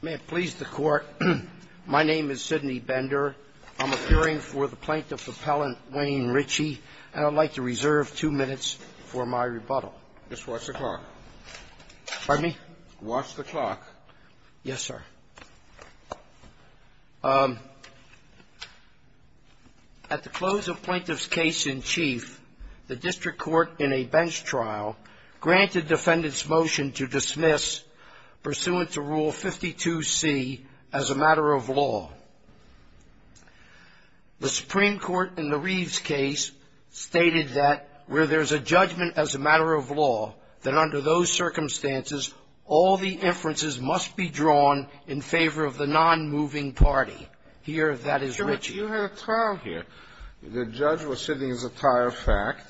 May it please the Court, my name is Sidney Bender. I'm appearing for the Plaintiff Appellant Wayne Ritchie, and I'd like to reserve two minutes for my rebuttal. Just watch the clock. Pardon me? Watch the clock. Yes, sir. At the close of Plaintiff's case in chief, the District Court in a bench trial granted defendants' motion to dismiss pursuant to Rule 52C as a matter of law. The Supreme Court in the Reeves case stated that where there's a judgment as a matter of law, that under those circumstances, all the inferences must be drawn in favor of the nonmoving party. Here, that is Ritchie. You had a trial here. The judge was sitting as a tire of fact.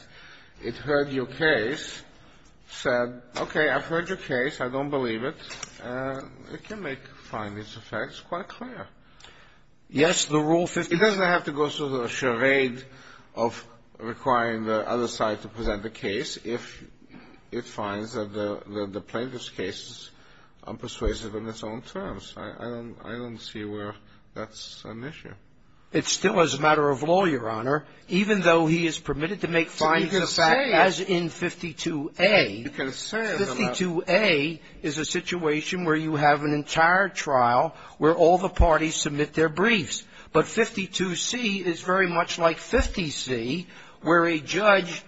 It heard your case, said, okay, I've heard your case, I don't believe it, and it can make findings of facts quite clear. Yes, the Rule 50... It doesn't have to go through the charade of requiring the other side to present the case if it finds that the Plaintiff's case is unpersuasive in its own terms. I don't see where that's an issue. It still is a matter of law, Your Honor, even though he is permitted to make findings of facts as in 52A. 52A is a situation where you have an entire trial where all the parties submit their briefs. But 52C is very much like 50C, where a judge,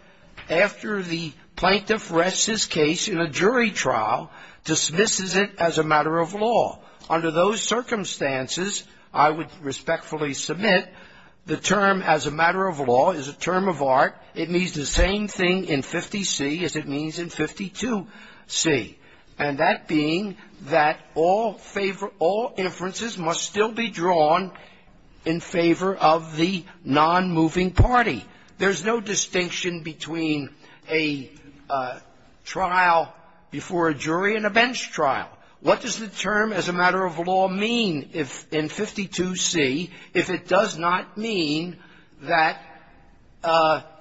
after the Plaintiff rests his case in a jury trial, dismisses it as a matter of law. Under those circumstances, I would respectfully submit the term as a matter of law is a term of art. It means the same thing in 50C as it means in 52C, and that being that all favor — all inferences must still be drawn in favor of the nonmoving party. There's no distinction between a trial before a jury and a bench trial. What does the term as a matter of law mean in 52C if it does not mean that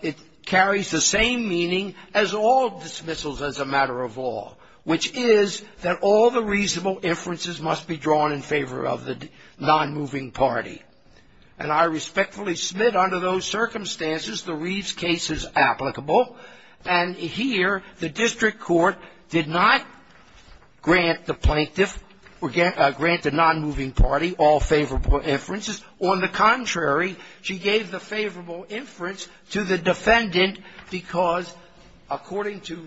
it carries the same meaning as all dismissals as a matter of law, which is that all the reasonable inferences must be drawn in favor of the nonmoving party. And I respectfully submit under those circumstances the Reeves case is applicable. And here the district court did not grant the Plaintiff or grant the nonmoving party all favorable inferences. On the contrary, she gave the favorable inference to the defendant because, according to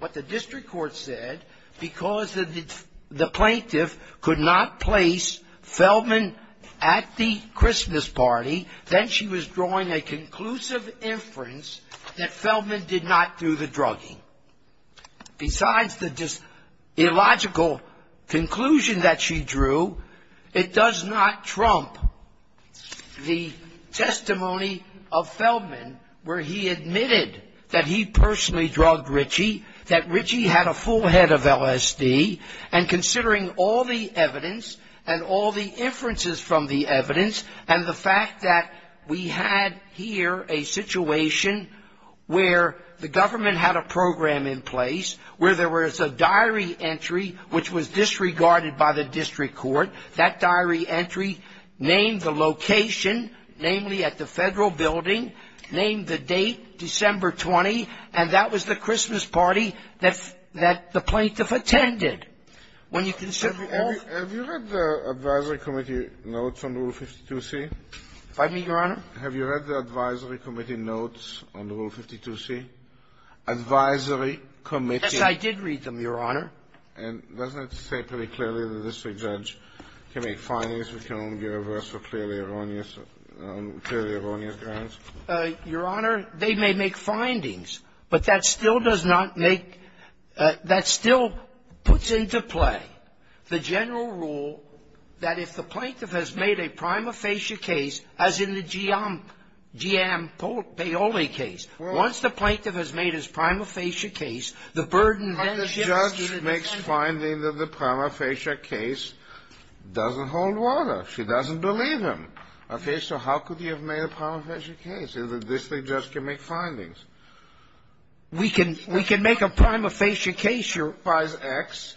what the district court said, because the Plaintiff could not place Feldman at the Christmas party, then she was drawing a conclusive inference that Feldman did not do the drugging. Besides the illogical conclusion that she drew, it does not trump the testimony of Feldman where he admitted that he personally drugged Ritchie, that Ritchie had a full head of LSD, and considering all the evidence and all the inferences from the evidence and the fact that we had here a situation where the government had a program in place where there was a diary entry, which was disregarded by the district court. That diary entry named the location, namely at the Federal building, named the date, December 20, and that was the Christmas party that the Plaintiff attended. When you consider all of the ---- Have you read the advisory committee notes on Rule 52c? Pardon me, Your Honor? Have you read the advisory committee notes on Rule 52c? Advisory committee ---- Yes, I did read them, Your Honor. And doesn't it say pretty clearly the district judge can make findings which can only be reversed for clearly erroneous grounds? Your Honor, they may make findings, but that still does not make ---- that still puts into play the general rule that if the Plaintiff has made a prima facie case, as in the Giampaoli case, once the Plaintiff has made his prima facie case, the burden then shifts to the district court. But the judge makes finding that the prima facie case doesn't hold water. She doesn't believe him. Okay. So how could he have made a prima facie case? The district judge can make findings. We can ---- We can make a prima facie case, Your Honor. If the district judge applies X,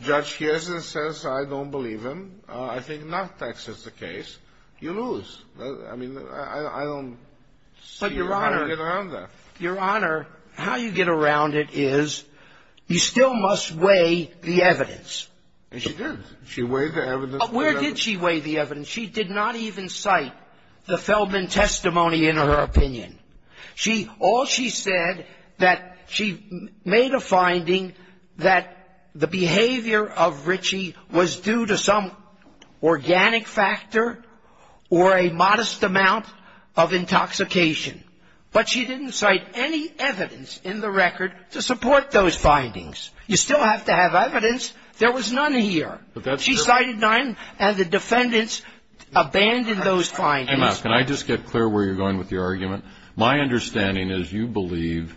judge hears it and says, I don't believe him. I think not X is the case. You lose. I mean, I don't see how you get around that. But, Your Honor, Your Honor, how you get around it is, you still must weigh the evidence. And she did. She weighed the evidence. Where did she weigh the evidence? She did not even cite the Feldman testimony in her opinion. She ---- all she said that she made a finding that the behavior of Ritchie was due to some organic factor or a modest amount of intoxication. But she didn't cite any evidence in the record to support those findings. You still have to have evidence. There was none here. She cited none, and the defendants abandoned those findings. Can I just get clear where you're going with your argument? My understanding is you believe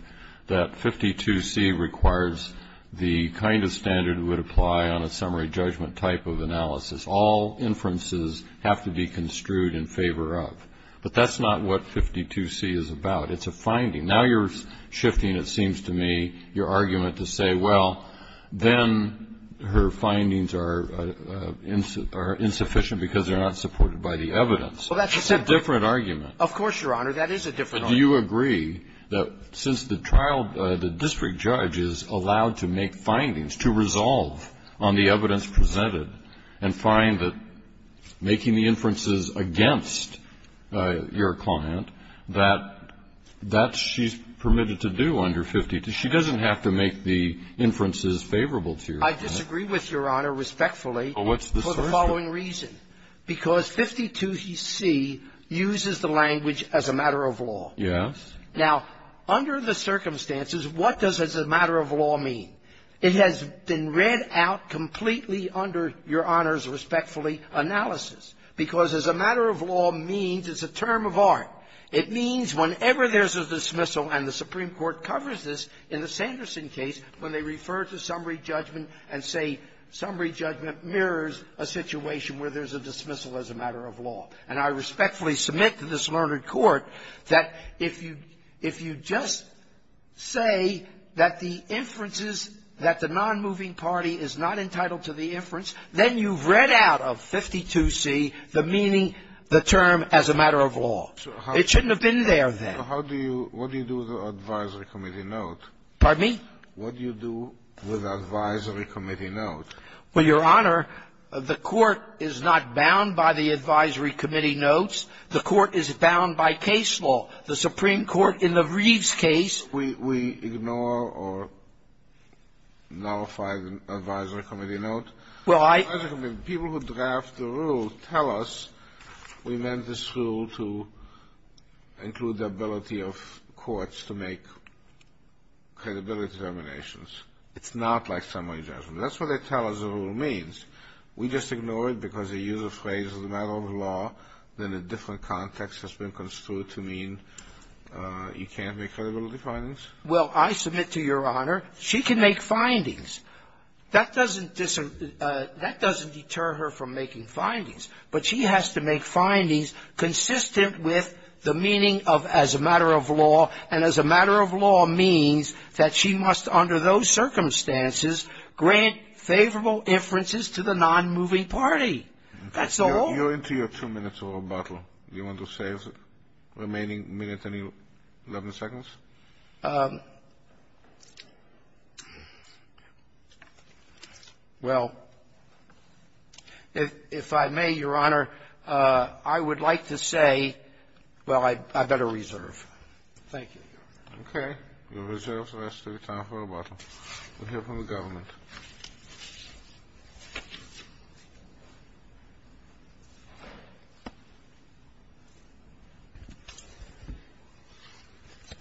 that 52C requires the kind of standard that would apply on a summary judgment type of analysis. All inferences have to be construed in favor of. But that's not what 52C is about. It's a finding. Now you're shifting, it seems to me, your argument to say, well, then her findings are insufficient because they're not supported by the evidence. That's a different argument. Of course, Your Honor. That is a different argument. But do you agree that since the trial, the district judge is allowed to make findings to resolve on the evidence presented and find that making the inferences against your client, that that she's permitted to do under 52? She doesn't have to make the inferences favorable to you. I disagree with Your Honor respectfully. Well, what's the solution? For the following reason. Because 52C uses the language as a matter of law. Yes. Now, under the circumstances, what does a matter of law mean? It has been read out completely under Your Honor's respectfully analysis. Because as a matter of law means, it's a term of art. It means whenever there's a dismissal, and the Supreme Court covers this in the Sanderson case when they refer to summary judgment and say summary judgment mirrors a situation where there's a dismissal as a matter of law. And I respectfully submit to this learned court that if you just say that the inferences that the nonmoving party is not entitled to the inference, then you've read out of 52C the meaning, the term, as a matter of law. It shouldn't have been there then. So how do you – what do you do with the advisory committee note? Pardon me? What do you do with the advisory committee note? Well, Your Honor, the court is not bound by the advisory committee notes. The court is bound by case law. The Supreme Court in the Reeves case – We ignore or nullify the advisory committee note? Well, I – People who draft the rule tell us we meant this rule to include the ability of courts to make credibility determinations. It's not like summary judgment. That's what they tell us the rule means. We just ignore it because they use a phrase as a matter of law that in a different context has been construed to mean you can't make credibility findings? Well, I submit to Your Honor, she can make findings. That doesn't deter her from making findings. But she has to make findings consistent with the meaning of as a matter of law, and as a matter of law means that she must, under those circumstances, grant favorable inferences to the nonmoving party. That's all. You're into your two minutes of rebuttal. Do you want to save the remaining minute and 11 seconds? Well, if I may, Your Honor, I would like to say – well, I better reserve. Thank you, Your Honor. Okay. You'll reserve the rest of your time for rebuttal. We'll hear from the government.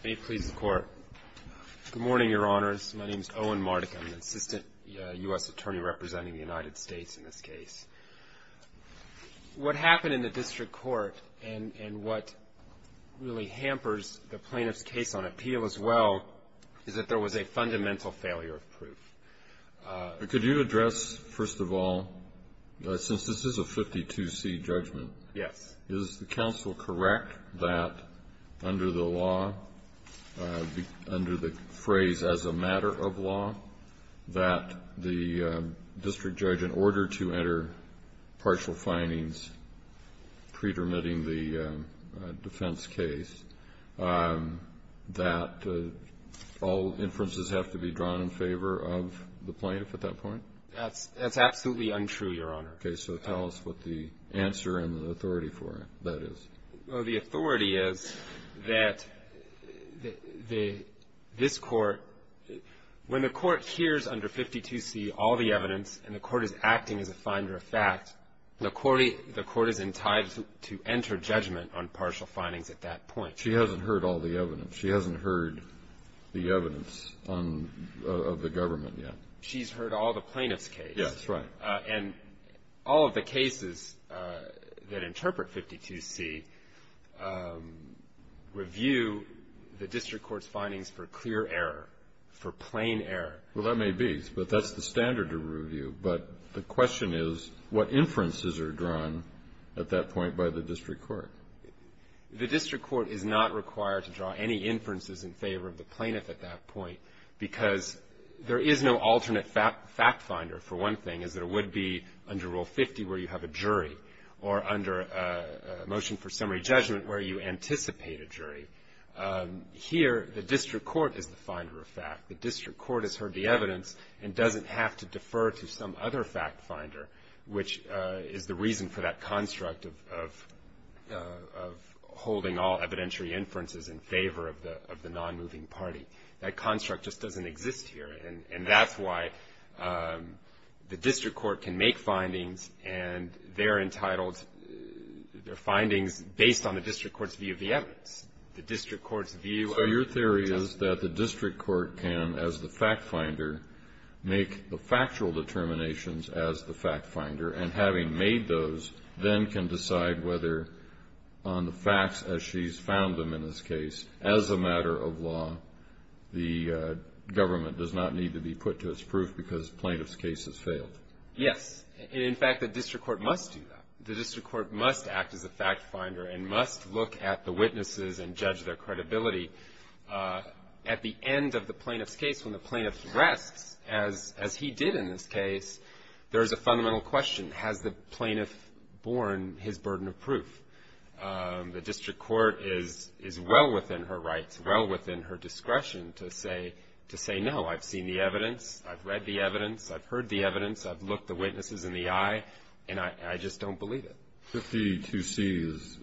May it please the Court. Good morning, Your Honors. My name is Owen Marduk. I'm the Assistant U.S. Attorney representing the United States in this case. What happened in the district court, and what really hampers the plaintiff's case on appeal as well, is that there was a fundamental failure of proof. Could you address, first of all, since this is a 52C judgment, is the counsel correct that under the law, under the phrase as a matter of law, that the district judge, in order to enter partial findings pre-permitting the defense case, that all inferences have to be drawn in favor of the plaintiff at that point? That's absolutely untrue, Your Honor. Okay. So tell us what the answer and the authority for that is. Well, the authority is that this Court, when the Court hears under 52C all the evidence and the Court is acting as a finder of fact, the Court is entitled to enter judgment on partial findings at that point. She hasn't heard all the evidence. She hasn't heard the evidence of the government yet. She's heard all the plaintiff's case. Yes, right. And all of the cases that interpret 52C review the district court's findings for clear error, for plain error. Well, that may be, but that's the standard of review. But the question is, what inferences are drawn at that point by the district court? The district court is not required to draw any inferences in favor of the plaintiff at that point because there is no alternate fact finder, for one thing, as there would be under Rule 50 where you have a jury, or under a motion for summary judgment where you anticipate a jury. Here, the district court is the finder of fact. The district court has heard the evidence and doesn't have to defer to some other fact finder, which is the reason for that construct of holding all evidentiary inferences in favor of the non-moving party. That construct just doesn't exist here, and that's why the district court can make findings and they're entitled, they're findings based on the district court's view of the evidence. So your theory is that the district court can, as the fact finder, make the factual determinations as the fact finder, and having made those then can decide whether on the facts as she's found them in this case, as a matter of law, the government does not need to be put to its proof because the plaintiff's case has failed. Yes. In fact, the district court must do that. And must look at the witnesses and judge their credibility. At the end of the plaintiff's case, when the plaintiff rests, as he did in this case, there is a fundamental question. Has the plaintiff borne his burden of proof? The district court is well within her rights, well within her discretion to say no. I've seen the evidence. I've read the evidence. I've heard the evidence. I've looked the witnesses in the eye, and I just don't believe it. 52C is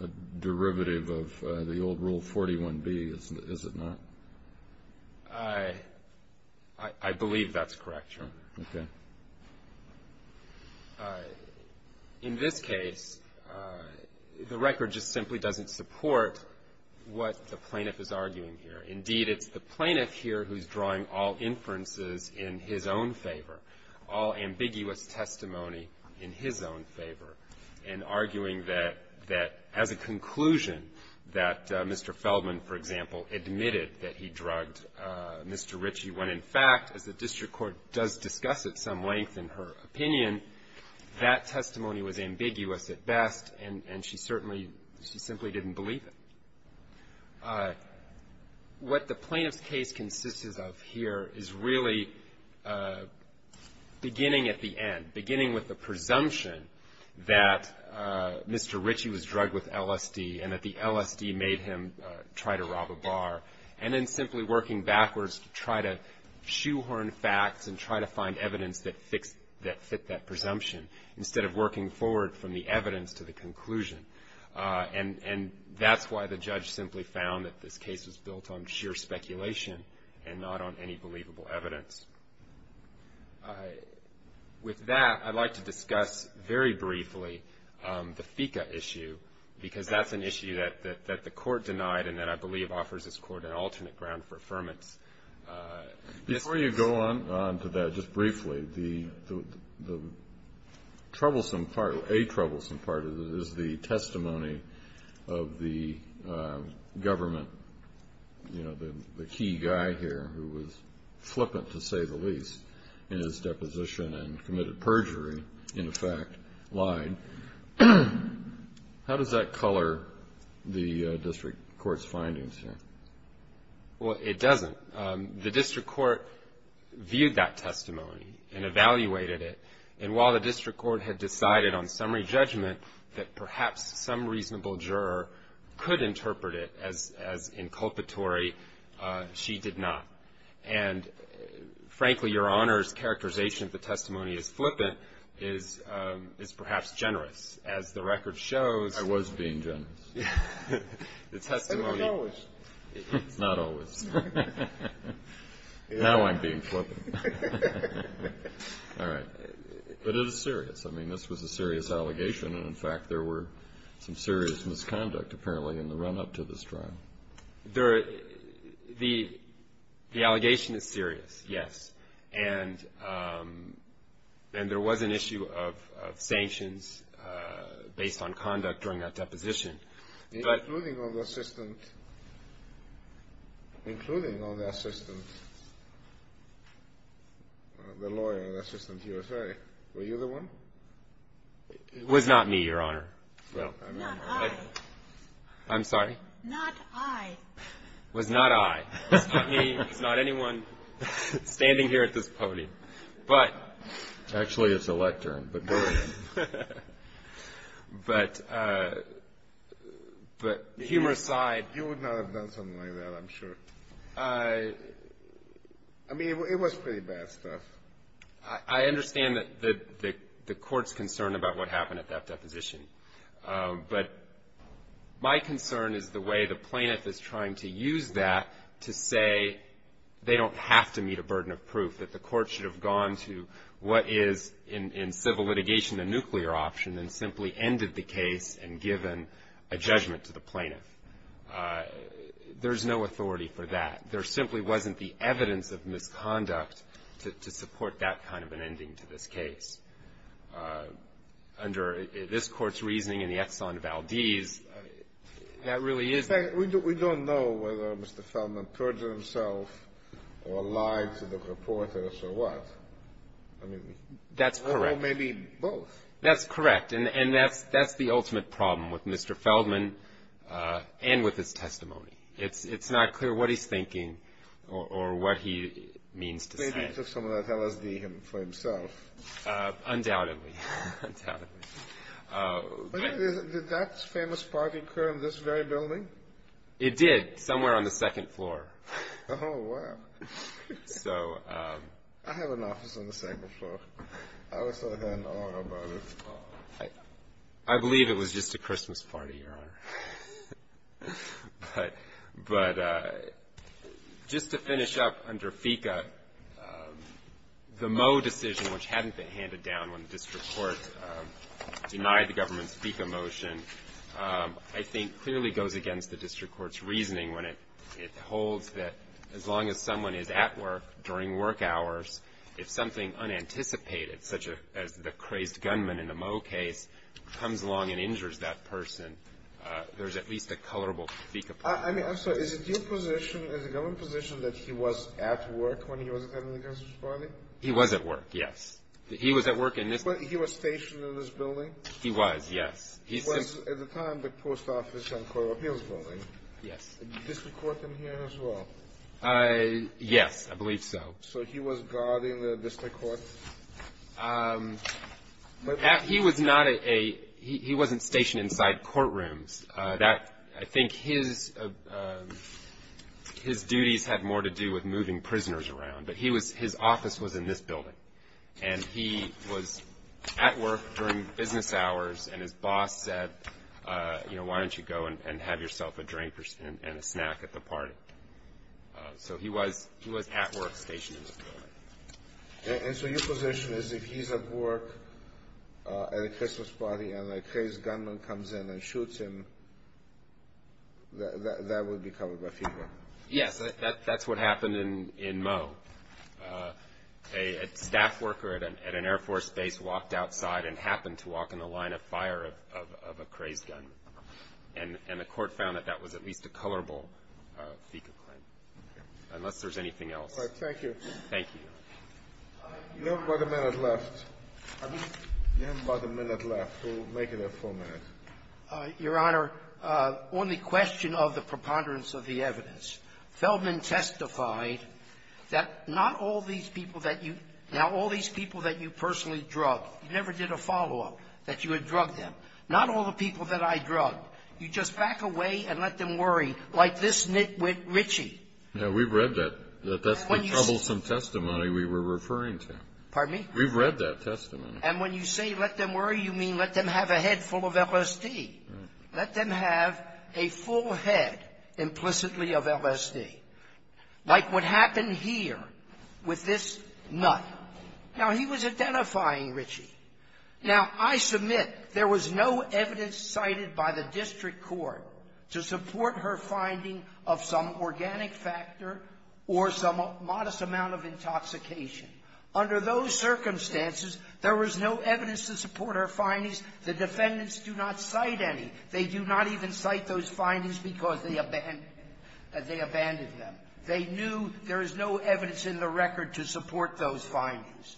a derivative of the old Rule 41B, is it not? I believe that's correct, Your Honor. Okay. In this case, the record just simply doesn't support what the plaintiff is arguing here. Indeed, it's the plaintiff here who's drawing all inferences in his own favor, all ambiguous testimony in his own favor, and arguing that, as a conclusion, that Mr. Feldman, for example, admitted that he drugged Mr. Ritchie, when, in fact, as the district court does discuss at some length in her opinion, that testimony was ambiguous at best, and she certainly, she simply didn't believe it. What the plaintiff's case consists of here is really beginning at the end, beginning with the presumption that Mr. Ritchie was drugged with LSD, and that the LSD made him try to rob a bar, and then simply working backwards to try to shoehorn facts and try to find evidence that fits that presumption, instead of working forward from the evidence to the conclusion. And that's why the judge simply found that this case was built on sheer speculation and not on any believable evidence. With that, I'd like to discuss very briefly the FICA issue, because that's an issue that the court denied and that I believe offers this court an alternate ground for affirmance. Before you go on to that, just briefly, the troublesome part, or a troublesome part of it is the testimony of the government, you know, the key guy here who was flippant, to say the least, in his deposition and committed perjury, in effect, lied. How does that color the district court's findings here? Well, it doesn't. The district court viewed that testimony and evaluated it, and while the district court had decided on summary judgment that perhaps some reasonable juror could interpret it as inculpatory, she did not. And, frankly, Your Honor's characterization of the testimony as flippant is perhaps generous. As the record shows ---- I was being generous. The testimony ---- Not always. Not always. Now I'm being flippant. All right. But it is serious. I mean, this was a serious allegation, and in fact there were some serious misconduct apparently in the run-up to this trial. The allegation is serious, yes, and there was an issue of sanctions based on conduct during that deposition. Including on the assistant, including on the assistant, the lawyer, the assistant here. Sorry. Were you the one? It was not me, Your Honor. Not I. I'm sorry? Not I. It was not I. It was not me. It was not anyone standing here at this podium. But ---- Actually, it's the lectern, but go ahead. But humor aside ---- You would not have done something like that, I'm sure. I mean, it was pretty bad stuff. I understand the Court's concern about what happened at that deposition, but my concern is the way the plaintiff is trying to use that to say they don't have to meet a burden of proof, that the Court should have gone to what is in civil litigation a nuclear option and simply ended the case and given a judgment to the plaintiff. There's no authority for that. There simply wasn't the evidence of misconduct to support that kind of an ending to this case. Under this Court's reasoning in the Exxon Valdez, that really is ---- We don't know whether Mr. Feldman perjured himself or lied to the reporters or what. That's correct. Or maybe both. That's correct, and that's the ultimate problem with Mr. Feldman and with his testimony. It's not clear what he's thinking or what he means to say. Maybe he took some of that LSD for himself. Undoubtedly, undoubtedly. Did that famous party occur in this very building? It did, somewhere on the second floor. Oh, wow. So ---- I have an office on the second floor. I was there then. I don't know about it. I believe it was just a Christmas party, Your Honor. But just to finish up under FICA, the Moe decision, which hadn't been handed down when the district court denied the government's FICA motion, I think clearly goes against the district court's reasoning when it holds that as long as someone is at work, during work hours, if something unanticipated, such as the crazed gunman in the Moe case, comes along and injures that person, there's at least a colorable FICA ---- I mean, I'm sorry. Is it your position, is the government's position that he was at work when he was attending the Christmas party? He was at work, yes. He was at work in this ---- He was stationed in this building? He was, yes. He was at the time the post office on the Court of Appeals building. Yes. Is the district court in here as well? Yes, I believe so. So he was guarding the district court? He was not a ---- He wasn't stationed inside courtrooms. I think his duties had more to do with moving prisoners around, but his office was in this building, and he was at work during business hours, and his boss said, why don't you go and have yourself a drink and a snack at the party? So he was at work, stationed in this building. And so your position is if he's at work at a Christmas party and a crazed gunman comes in and shoots him, that would be covered by FICA? Yes, that's what happened in Moe. A staff worker at an Air Force base walked outside and happened to walk in the line of fire of a crazed gunman, and the court found that that was at least a colorable FICA claim, unless there's anything else. Thank you. Thank you. You have about a minute left. You have about a minute left. We'll make it a full minute. Your Honor, on the question of the preponderance of the evidence, Feldman testified that not all these people that you ---- Now, all these people that you personally drug, you never did a follow-up that you had drugged them. Not all the people that I drug. You just back away and let them worry, like this nitwit, Ritchie. Yeah, we've read that. That's the troublesome testimony we were referring to. Pardon me? We've read that testimony. And when you say let them worry, you mean let them have a head full of LSD. Let them have a full head implicitly of LSD, like what happened here with this nut. Now, he was identifying Ritchie. Now, I submit there was no evidence cited by the district court to support her finding of some organic factor or some modest amount of intoxication. Under those circumstances, there was no evidence to support her findings. The defendants do not cite any. They do not even cite those findings because they abandoned them. They knew there is no evidence in the record to support those findings.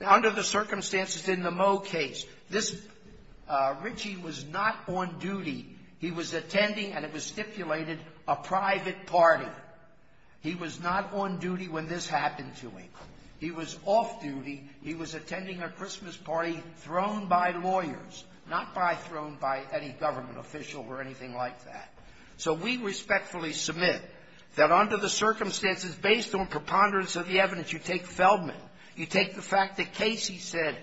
Now, under the circumstances in the Moe case, this ---- Ritchie was not on duty. He was attending, and it was stipulated, a private party. He was not on duty when this happened to him. He was off duty. He was attending a Christmas party thrown by lawyers, not by thrown by any government official or anything like that. So we respectfully submit that under the circumstances, based on preponderance of the evidence, you take Feldman, you take the fact that Casey said,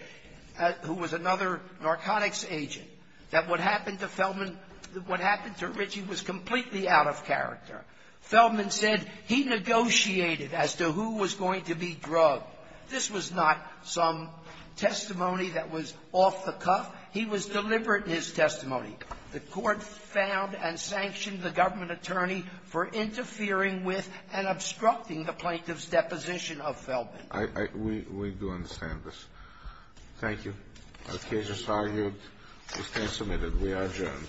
who was another narcotics agent, that what happened to Feldman ---- what happened to Ritchie was completely out of character. Feldman said he negotiated as to who was going to be drugged. This was not some testimony that was off the cuff. He was deliberate in his testimony. The Court found and sanctioned the government attorney for interfering with and obstructing the plaintiff's deposition of Feldman. Alitoson We do understand this. Thank you. The case is argued. This case is submitted. We are adjourned.